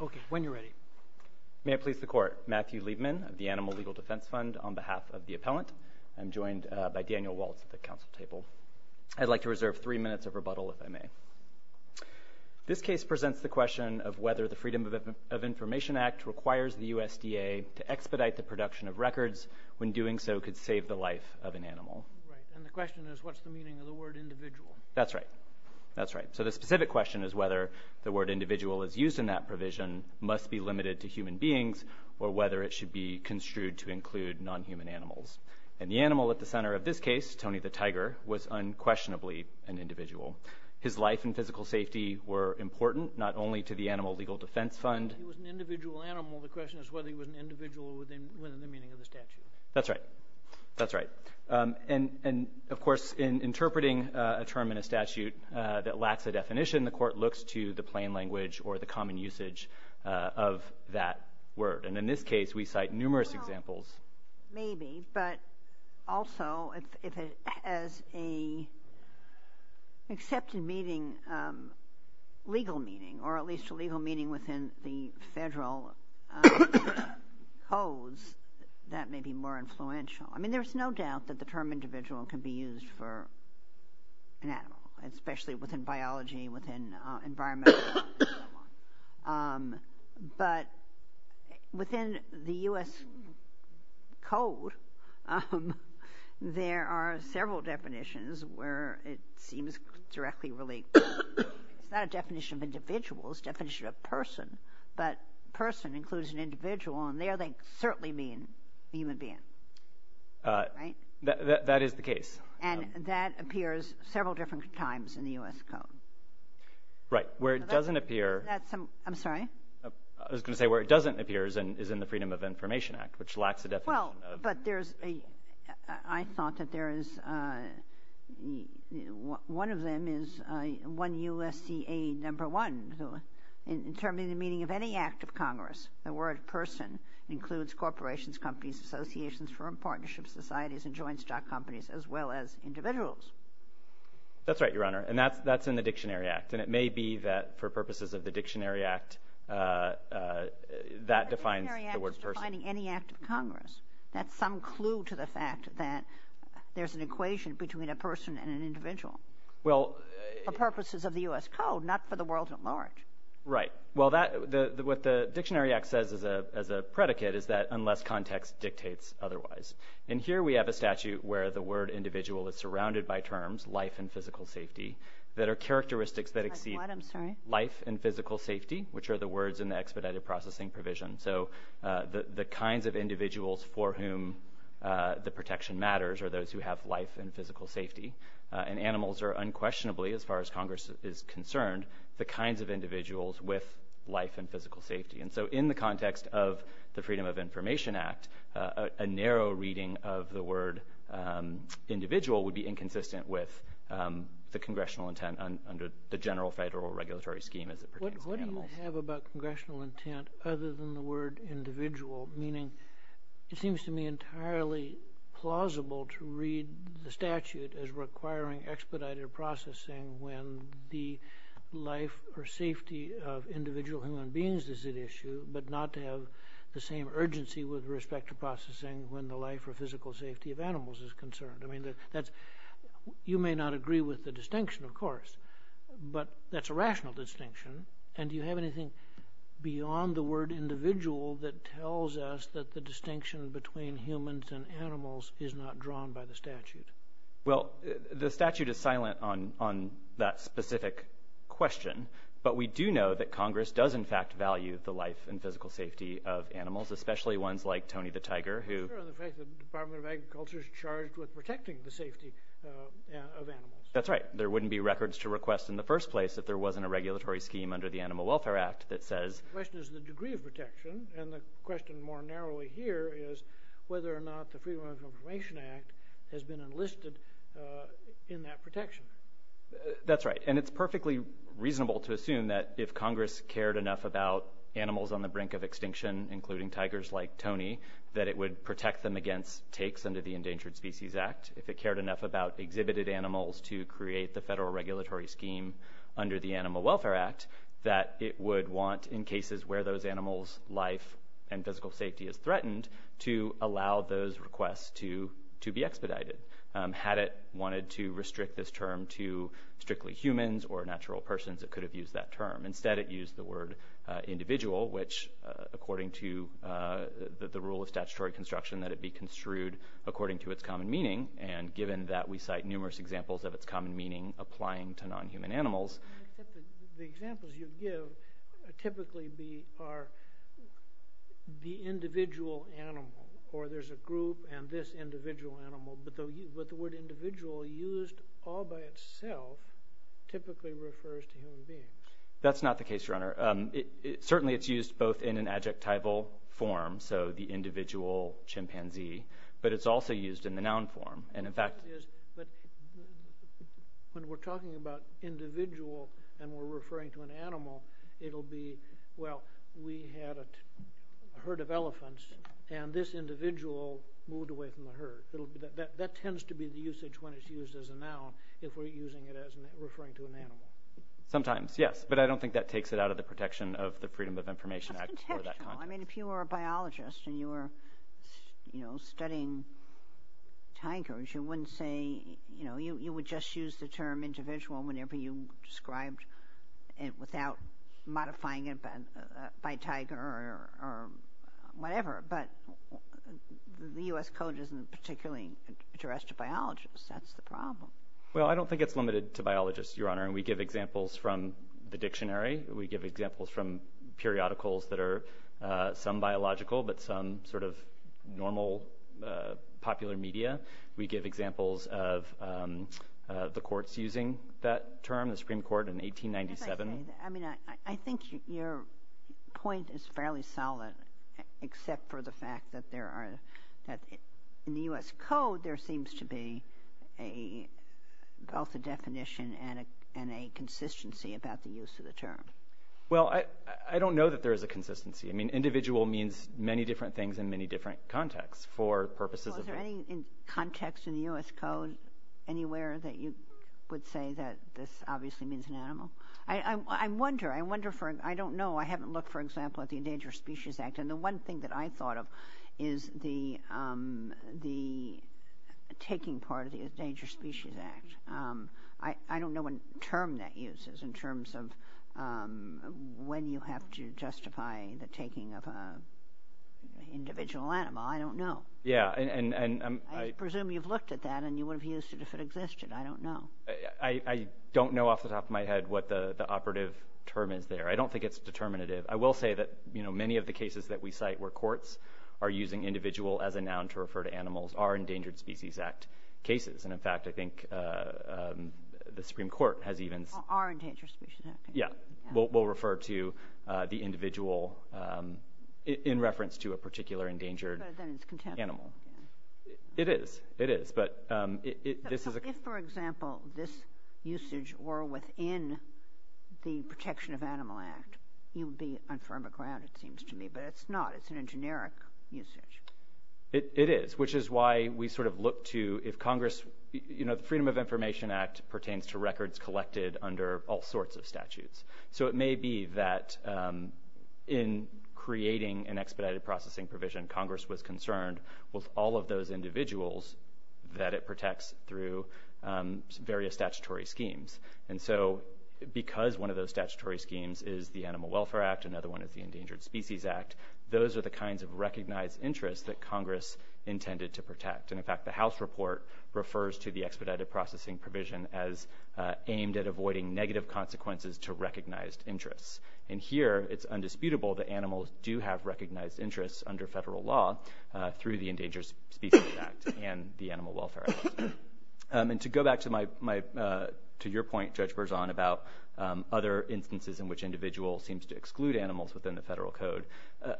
Okay, when you're ready. May I please the court. Matthew Liebman of the Animal Legal Defense Fund on behalf of the appellant. I'm joined by Daniel Waltz at the council table. I'd like to reserve three minutes of rebuttal if I may. This case presents the question of whether the Freedom of Information Act requires the USDA to expedite the production of records when doing so could save the life of an animal. Right, and the question is what's the meaning of the word individual? That's right, that's right. So the specific question is whether the word individual is used in that provision must be limited to human beings or whether it should be construed to include non-human animals. And the animal at the center of this case, Tony the tiger, was unquestionably an individual. His life and physical safety were important not only to the Animal Legal Defense Fund. But if he was an individual animal, the question is whether he was an individual within the meaning of the statute. That's right, that's right. And, of course, in interpreting a term in a statute that lacks a definition, the court looks to the plain language or the common usage of that word. And in this case, we cite numerous examples. Maybe, but also if it has an accepted meaning, legal meaning, or at least a legal meaning within the federal codes, that may be more influential. I mean, there's no doubt that the term individual can be used for an animal, especially within biology, within environmental law, and so on. But within the U.S. code, there are several definitions where it seems directly related. It's not a definition of individual, it's a definition of person. But person includes an individual, and there they certainly mean a human being, right? That is the case. And that appears several different times in the U.S. code. Right. Where it doesn't appear— I'm sorry? I was going to say where it doesn't appear is in the Freedom of Information Act, which lacks a definition of— the word person includes corporations, companies, associations, firm partnerships, societies, and joint stock companies, as well as individuals. That's right, Your Honor, and that's in the Dictionary Act. And it may be that for purposes of the Dictionary Act, that defines the word person. The Dictionary Act is defining any act of Congress. That's some clue to the fact that there's an equation between a person and an individual. Well— For purposes of the U.S. code, not for the world at large. Right. Well, what the Dictionary Act says as a predicate is that unless context dictates otherwise. And here we have a statute where the word individual is surrounded by terms, life and physical safety, that are characteristics that exceed— I'm sorry? Life and physical safety, which are the words in the expedited processing provision. So the kinds of individuals for whom the protection matters are those who have life and physical safety. And animals are unquestionably, as far as Congress is concerned, the kinds of individuals with life and physical safety. And so in the context of the Freedom of Information Act, a narrow reading of the word individual would be inconsistent with the congressional intent under the general federal regulatory scheme as it pertains to animals. What do you have about congressional intent other than the word individual? Meaning, it seems to me entirely plausible to read the statute as requiring expedited processing when the life or safety of individual human beings is at issue, but not to have the same urgency with respect to processing when the life or physical safety of animals is concerned. I mean, you may not agree with the distinction, of course, but that's a rational distinction. And do you have anything beyond the word individual that tells us that the distinction between humans and animals is not drawn by the statute? Well, the statute is silent on that specific question, but we do know that Congress does in fact value the life and physical safety of animals, especially ones like Tony the Tiger, who— The Department of Agriculture is charged with protecting the safety of animals. That's right. There wouldn't be records to request in the first place if there wasn't a regulatory scheme under the Animal Welfare Act that says— The question is the degree of protection, and the question more narrowly here is whether or not the Freedom of Information Act has been enlisted in that protection. That's right. And it's perfectly reasonable to assume that if Congress cared enough about animals on the brink of extinction, including tigers like Tony, that it would protect them against takes under the Endangered Species Act. If it cared enough about exhibited animals to create the federal regulatory scheme under the Animal Welfare Act, that it would want, in cases where those animals' life and physical safety is threatened, to allow those requests to be expedited. Had it wanted to restrict this term to strictly humans or natural persons, it could have used that term. Instead, it used the word individual, which according to the rule of statutory construction, that it be construed according to its common meaning, and given that we cite numerous examples of its common meaning applying to non-human animals. The examples you give typically are the individual animal, or there's a group and this individual animal, but the word individual used all by itself typically refers to human beings. That's not the case, Your Honor. Certainly it's used both in an adjectival form, so the individual chimpanzee, but it's also used in the noun form. When we're talking about individual and we're referring to an animal, it'll be, well, we had a herd of elephants, and this individual moved away from the herd. That tends to be the usage when it's used as a noun, if we're using it as referring to an animal. Sometimes, yes, but I don't think that takes it out of the protection of the Freedom of Information Act. That's intentional. I mean, if you were a biologist and you were, you know, studying tigers, you wouldn't say, you know, you would just use the term individual whenever you described it without modifying it by tiger or whatever, but the U.S. Code isn't particularly addressed to biologists. That's the problem. Well, I don't think it's limited to biologists, Your Honor, and we give examples from the dictionary. We give examples from periodicals that are some biological but some sort of normal popular media. We give examples of the courts using that term, the Supreme Court in 1897. I mean, I think your point is fairly solid except for the fact that there are, that in the U.S. Code, there seems to be both a definition and a consistency about the use of the term. Well, I don't know that there is a consistency. I mean, individual means many different things in many different contexts for purposes of— So is there any context in the U.S. Code anywhere that you would say that this obviously means an animal? I wonder. I wonder for—I don't know. I haven't looked, for example, at the Endangered Species Act, and the one thing that I thought of is the taking part of the Endangered Species Act. I don't know what term that uses in terms of when you have to justify the taking of an individual animal. I don't know. Yeah, and— I presume you've looked at that, and you would have used it if it existed. I don't know. I don't know off the top of my head what the operative term is there. I don't think it's determinative. I will say that, you know, many of the cases that we cite where courts are using individual as a noun to refer to animals are Endangered Species Act cases. And, in fact, I think the Supreme Court has even— Are Endangered Species Act cases. Yeah. We'll refer to the individual in reference to a particular endangered animal. But then it's contemporary. It is. It is. If, for example, this usage were within the Protection of Animal Act, you would be on firmer ground, it seems to me. But it's not. It's in a generic usage. It is, which is why we sort of look to if Congress— You know, the Freedom of Information Act pertains to records collected under all sorts of statutes. So it may be that in creating an expedited processing provision, Congress was concerned with all of those individuals that it protects through various statutory schemes. And so because one of those statutory schemes is the Animal Welfare Act, another one is the Endangered Species Act, those are the kinds of recognized interests that Congress intended to protect. And, in fact, the House report refers to the expedited processing provision as aimed at avoiding negative consequences to recognized interests. And here it's undisputable that animals do have recognized interests under federal law through the Endangered Species Act and the Animal Welfare Act. And to go back to your point, Judge Berzon, about other instances in which individuals seem to exclude animals within the federal code,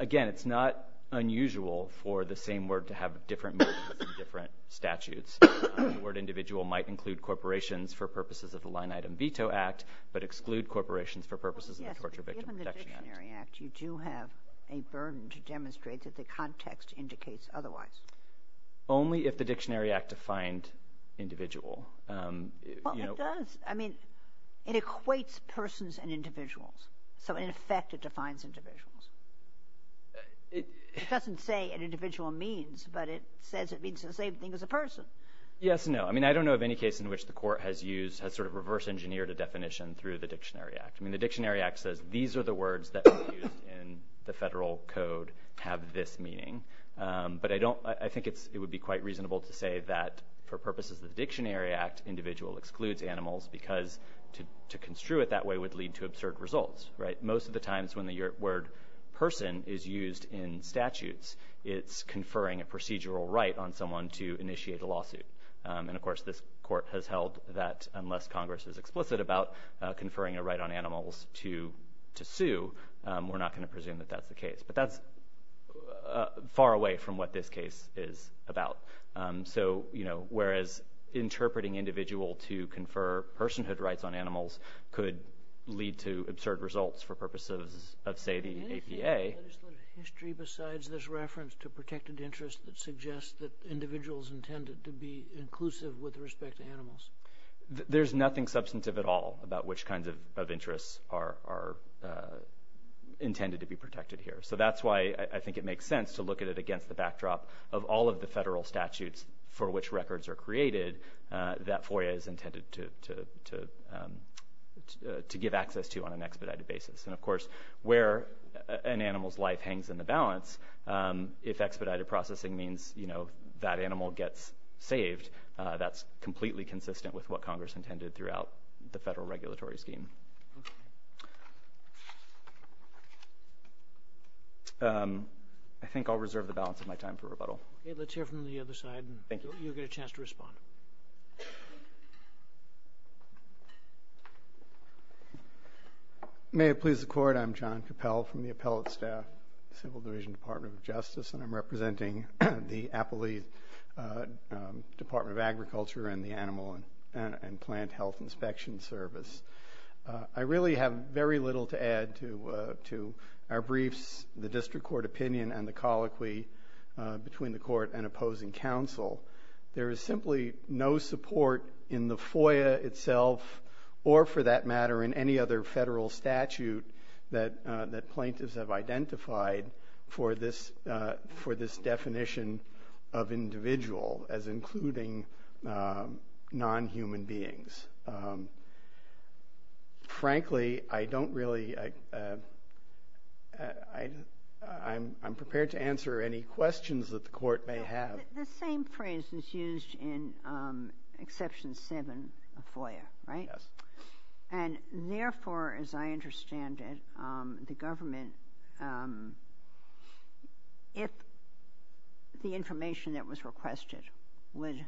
again, it's not unusual for the same word to have different meanings in different statutes. The word individual might include corporations for purposes of the Line Item Veto Act, but exclude corporations for purposes of the Torture Victim Protection Act. Yes, but given the Dictionary Act, you do have a burden to demonstrate that the context indicates otherwise. Only if the Dictionary Act defined individual. Well, it does. I mean, it equates persons and individuals. So, in effect, it defines individuals. It doesn't say an individual means, but it says it means the same thing as a person. Yes and no. I mean, I don't know of any case in which the court has used, has sort of reverse engineered a definition through the Dictionary Act. I mean, the Dictionary Act says these are the words that are used in the federal code have this meaning. But I think it would be quite reasonable to say that for purposes of the Dictionary Act, individual excludes animals because to construe it that way would lead to absurd results. Most of the times when the word person is used in statutes, it's conferring a procedural right on someone to initiate a lawsuit. And, of course, this court has held that unless Congress is explicit about conferring a right on animals to sue, we're not going to presume that that's the case. But that's far away from what this case is about. So, you know, whereas interpreting individual to confer personhood rights on animals could lead to absurd results for purposes of, say, the APA. Is there a history besides this reference to protected interest that suggests that individuals intended to be inclusive with respect to animals? There's nothing substantive at all about which kinds of interests are intended to be protected here. So that's why I think it makes sense to look at it against the backdrop of all of the federal statutes for which records are created that FOIA is intended to give access to on an expedited basis. And, of course, where an animal's life hangs in the balance, if expedited processing means, you know, that animal gets saved, that's completely consistent with what Congress intended throughout the federal regulatory scheme. I think I'll reserve the balance of my time for rebuttal. Let's hear from the other side. Thank you. You'll get a chance to respond. Thank you. May it please the Court. I'm John Capel from the Appellate Staff, Civil Division Department of Justice, and I'm representing the Appalachian Department of Agriculture and the Animal and Plant Health Inspection Service. I really have very little to add to our briefs, the district court opinion, and the colloquy between the court and opposing counsel. There is simply no support in the FOIA itself or, for that matter, in any other federal statute that plaintiffs have identified for this definition of individual as including non-human beings. Frankly, I don't really ‑‑ I'm prepared to answer any questions that the court may have. The same phrase is used in Exception 7 of FOIA, right? Yes. And therefore, as I understand it, the government, if the information that was requested would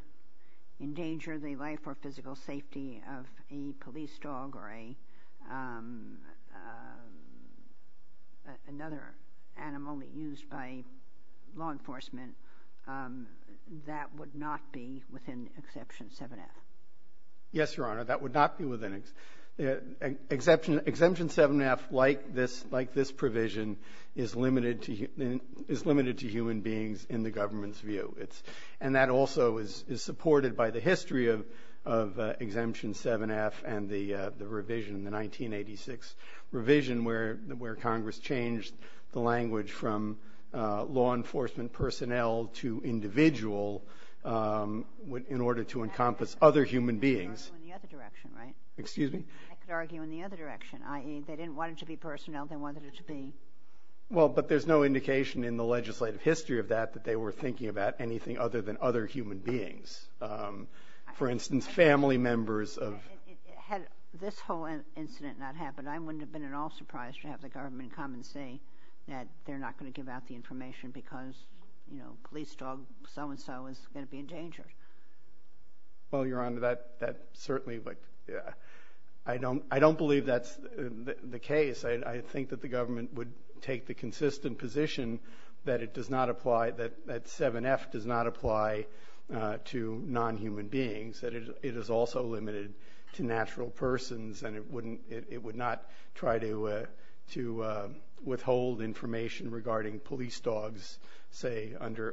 endanger the life or physical safety of a police dog or another animal used by law enforcement, that would not be within Exemption 7-F. Yes, Your Honor. That would not be within ‑‑ Exemption 7-F, like this provision, is limited to human beings in the government's view. And that also is supported by the history of Exemption 7-F and the revision in the 1986 revision where Congress changed the language from law enforcement personnel to individual in order to encompass other human beings. I could argue in the other direction, right? Excuse me? I could argue in the other direction, i.e., they didn't want it to be personnel. They wanted it to be ‑‑ Well, but there's no indication in the legislative history of that that they were thinking about. Anything other than other human beings. For instance, family members of ‑‑ Had this whole incident not happened, I wouldn't have been at all surprised to have the government come and say that they're not going to give out the information because, you know, police dog so and so is going to be endangered. Well, Your Honor, that certainly would ‑‑ I don't believe that's the case. I think that the government would take the consistent position that it does not apply, that 7-F does not apply to nonhuman beings, that it is also limited to natural persons and it would not try to withhold information regarding police dogs, say, under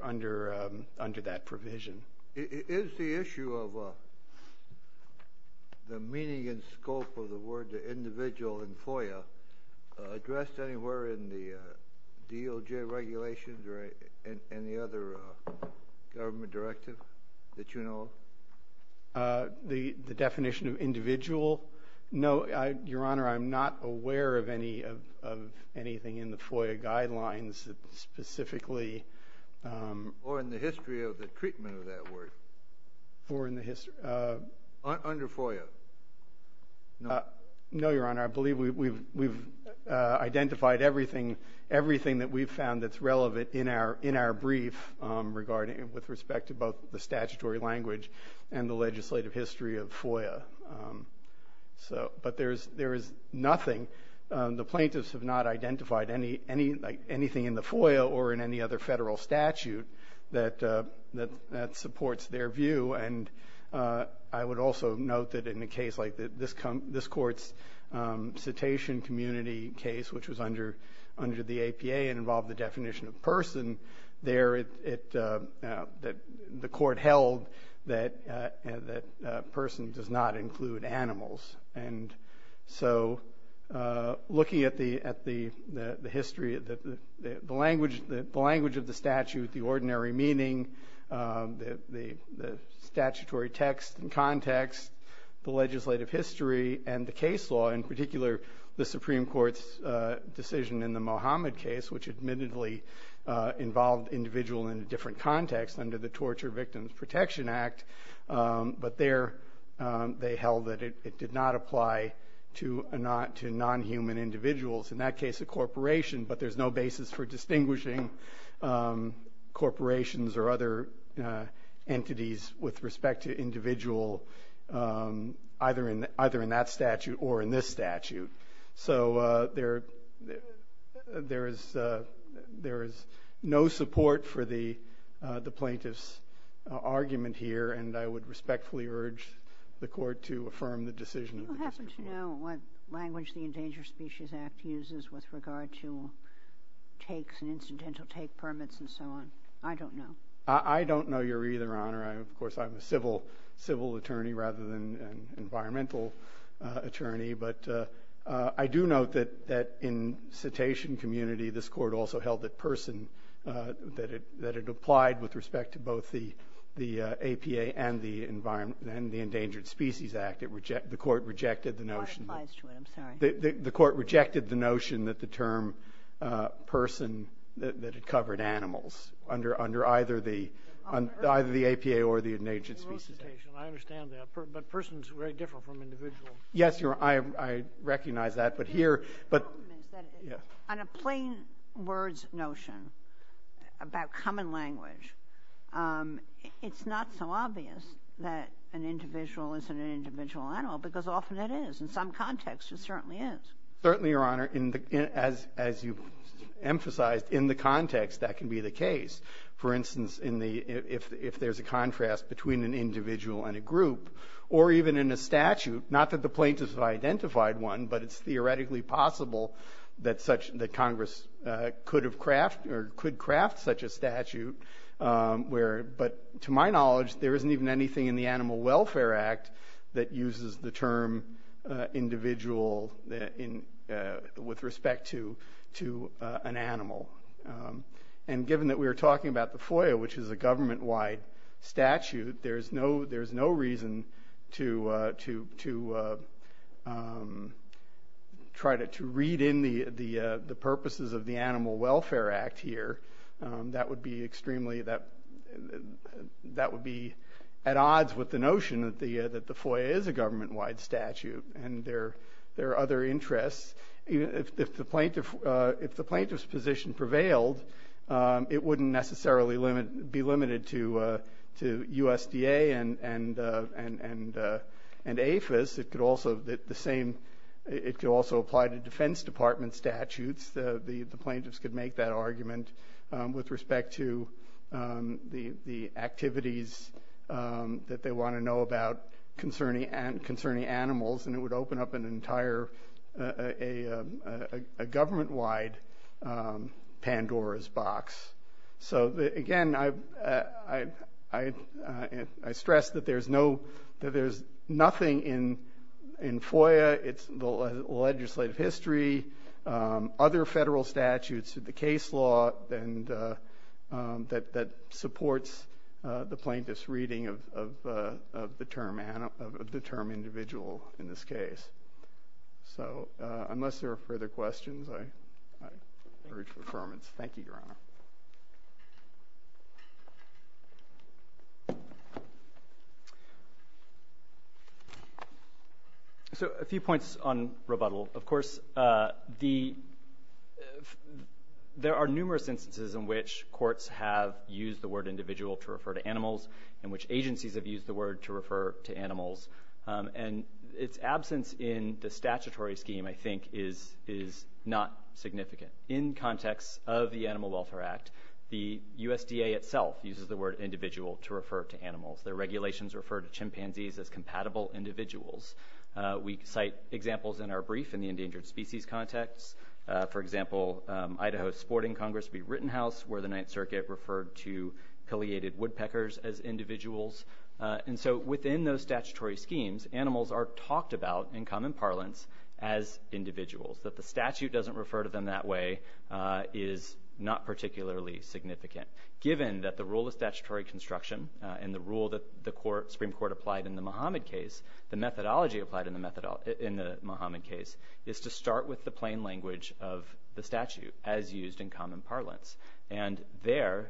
that provision. Is the issue of the meaning and scope of the word individual in FOIA addressed anywhere in the DOJ regulations or any other government directive that you know of? The definition of individual? No, Your Honor, I'm not aware of anything in the FOIA guidelines that specifically ‑‑ Or in the history of the treatment of that word. Or in the history ‑‑ Under FOIA. No, Your Honor, I believe we've identified everything that we've found that's relevant in our brief with respect to both the statutory language and the legislative history of FOIA. But there is nothing, the plaintiffs have not identified anything in the FOIA or in any other federal statute that supports their view. And I would also note that in a case like this court's cetacean community case, which was under the APA and involved the definition of person, there the court held that person does not include animals. And so looking at the history, the language of the statute, the ordinary meaning, the statutory text and context, the legislative history, and the case law, in particular the Supreme Court's decision in the Mohammed case, which admittedly involved individual in a different context under the Torture Victims Protection Act. But there they held that it did not apply to nonhuman individuals, in that case a corporation. But there's no basis for distinguishing corporations or other entities with respect to individual either in that statute or in this statute. So there is no support for the plaintiff's argument here, and I would respectfully urge the court to affirm the decision. Do you happen to know what language the Endangered Species Act uses with regard to takes and incidental take permits and so on? I don't know. I don't know either, Your Honor. Of course, I'm a civil attorney rather than an environmental attorney. But I do note that in cetacean community this court also held that person, that it applied with respect to both the APA and the Endangered Species Act. In fact, the court rejected the notion that the term person, that it covered animals under either the APA or the Endangered Species Act. I understand that. But person is very different from individual. Yes, Your Honor. I recognize that. On a plain words notion about common language, it's not so obvious that an individual isn't an individual animal, because often it is. In some contexts it certainly is. Certainly, Your Honor. As you emphasized, in the context that can be the case. For instance, if there's a contrast between an individual and a group, or even in a statute, not that the plaintiffs have identified one, but it's theoretically possible that Congress could have crafted or could craft such a statute. But to my knowledge there isn't even anything in the Animal Welfare Act that uses the term individual with respect to an animal. And given that we were talking about the FOIA, which is a government-wide statute, there's no reason to try to read in the purposes of the Animal Welfare Act here. That would be at odds with the notion that the FOIA is a government-wide statute and there are other interests. If the plaintiff's position prevailed, it wouldn't necessarily be limited to USDA and APHIS. It could also apply to Defense Department statutes. The plaintiffs could make that argument with respect to the activities that they want to know about concerning animals, and it would open up a government-wide Pandora's box. So, again, I stress that there's nothing in FOIA. It's the legislative history, other federal statutes, the case law, that supports the plaintiff's reading of the term individual in this case. So unless there are further questions, I urge for affirmance. Thank you, Your Honor. So a few points on rebuttal. Of course, there are numerous instances in which courts have used the word individual to refer to animals and which agencies have used the word to refer to animals, and its absence in the statutory scheme, I think, is not significant. In context of the Animal Welfare Act, the USDA itself uses the word individual to refer to animals. Their regulations refer to chimpanzees as compatible individuals. We cite examples in our brief in the endangered species context. For example, Idaho Sporting Congress v. Rittenhouse, where the Ninth Circuit referred to palliated woodpeckers as individuals. And so within those statutory schemes, animals are talked about in common parlance as individuals. That the statute doesn't refer to them that way is not particularly significant. Given that the rule of statutory construction and the rule that the Supreme Court applied in the Muhammad case, the methodology applied in the Muhammad case, is to start with the plain language of the statute as used in common parlance. And there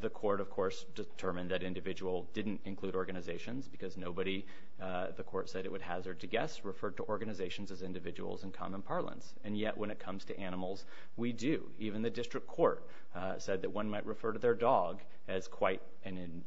the court, of course, determined that individual didn't include organizations because nobody, the court said it would hazard to guess, referred to organizations as individuals in common parlance. And yet when it comes to animals, we do. Even the district court said that one might refer to their dog as quite an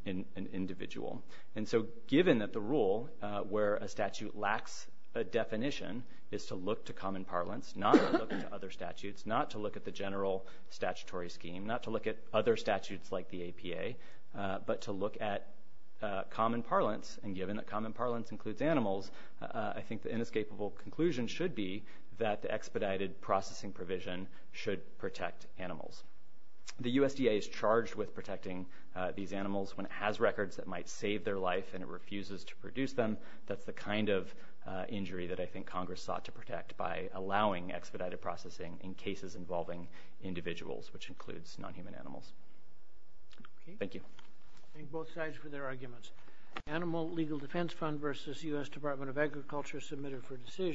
individual. And so given that the rule where a statute lacks a definition is to look to common parlance, not to look at other statutes, not to look at the general statutory scheme, not to look at other statutes like the APA, but to look at common parlance, and given that common parlance includes animals, I think the inescapable conclusion should be that the expedited processing provision should protect animals. The USDA is charged with protecting these animals when it has records that might save their life and it refuses to produce them. That's the kind of injury that I think Congress sought to protect by allowing expedited processing in cases involving individuals, which includes non-human animals. Thank you. I thank both sides for their arguments.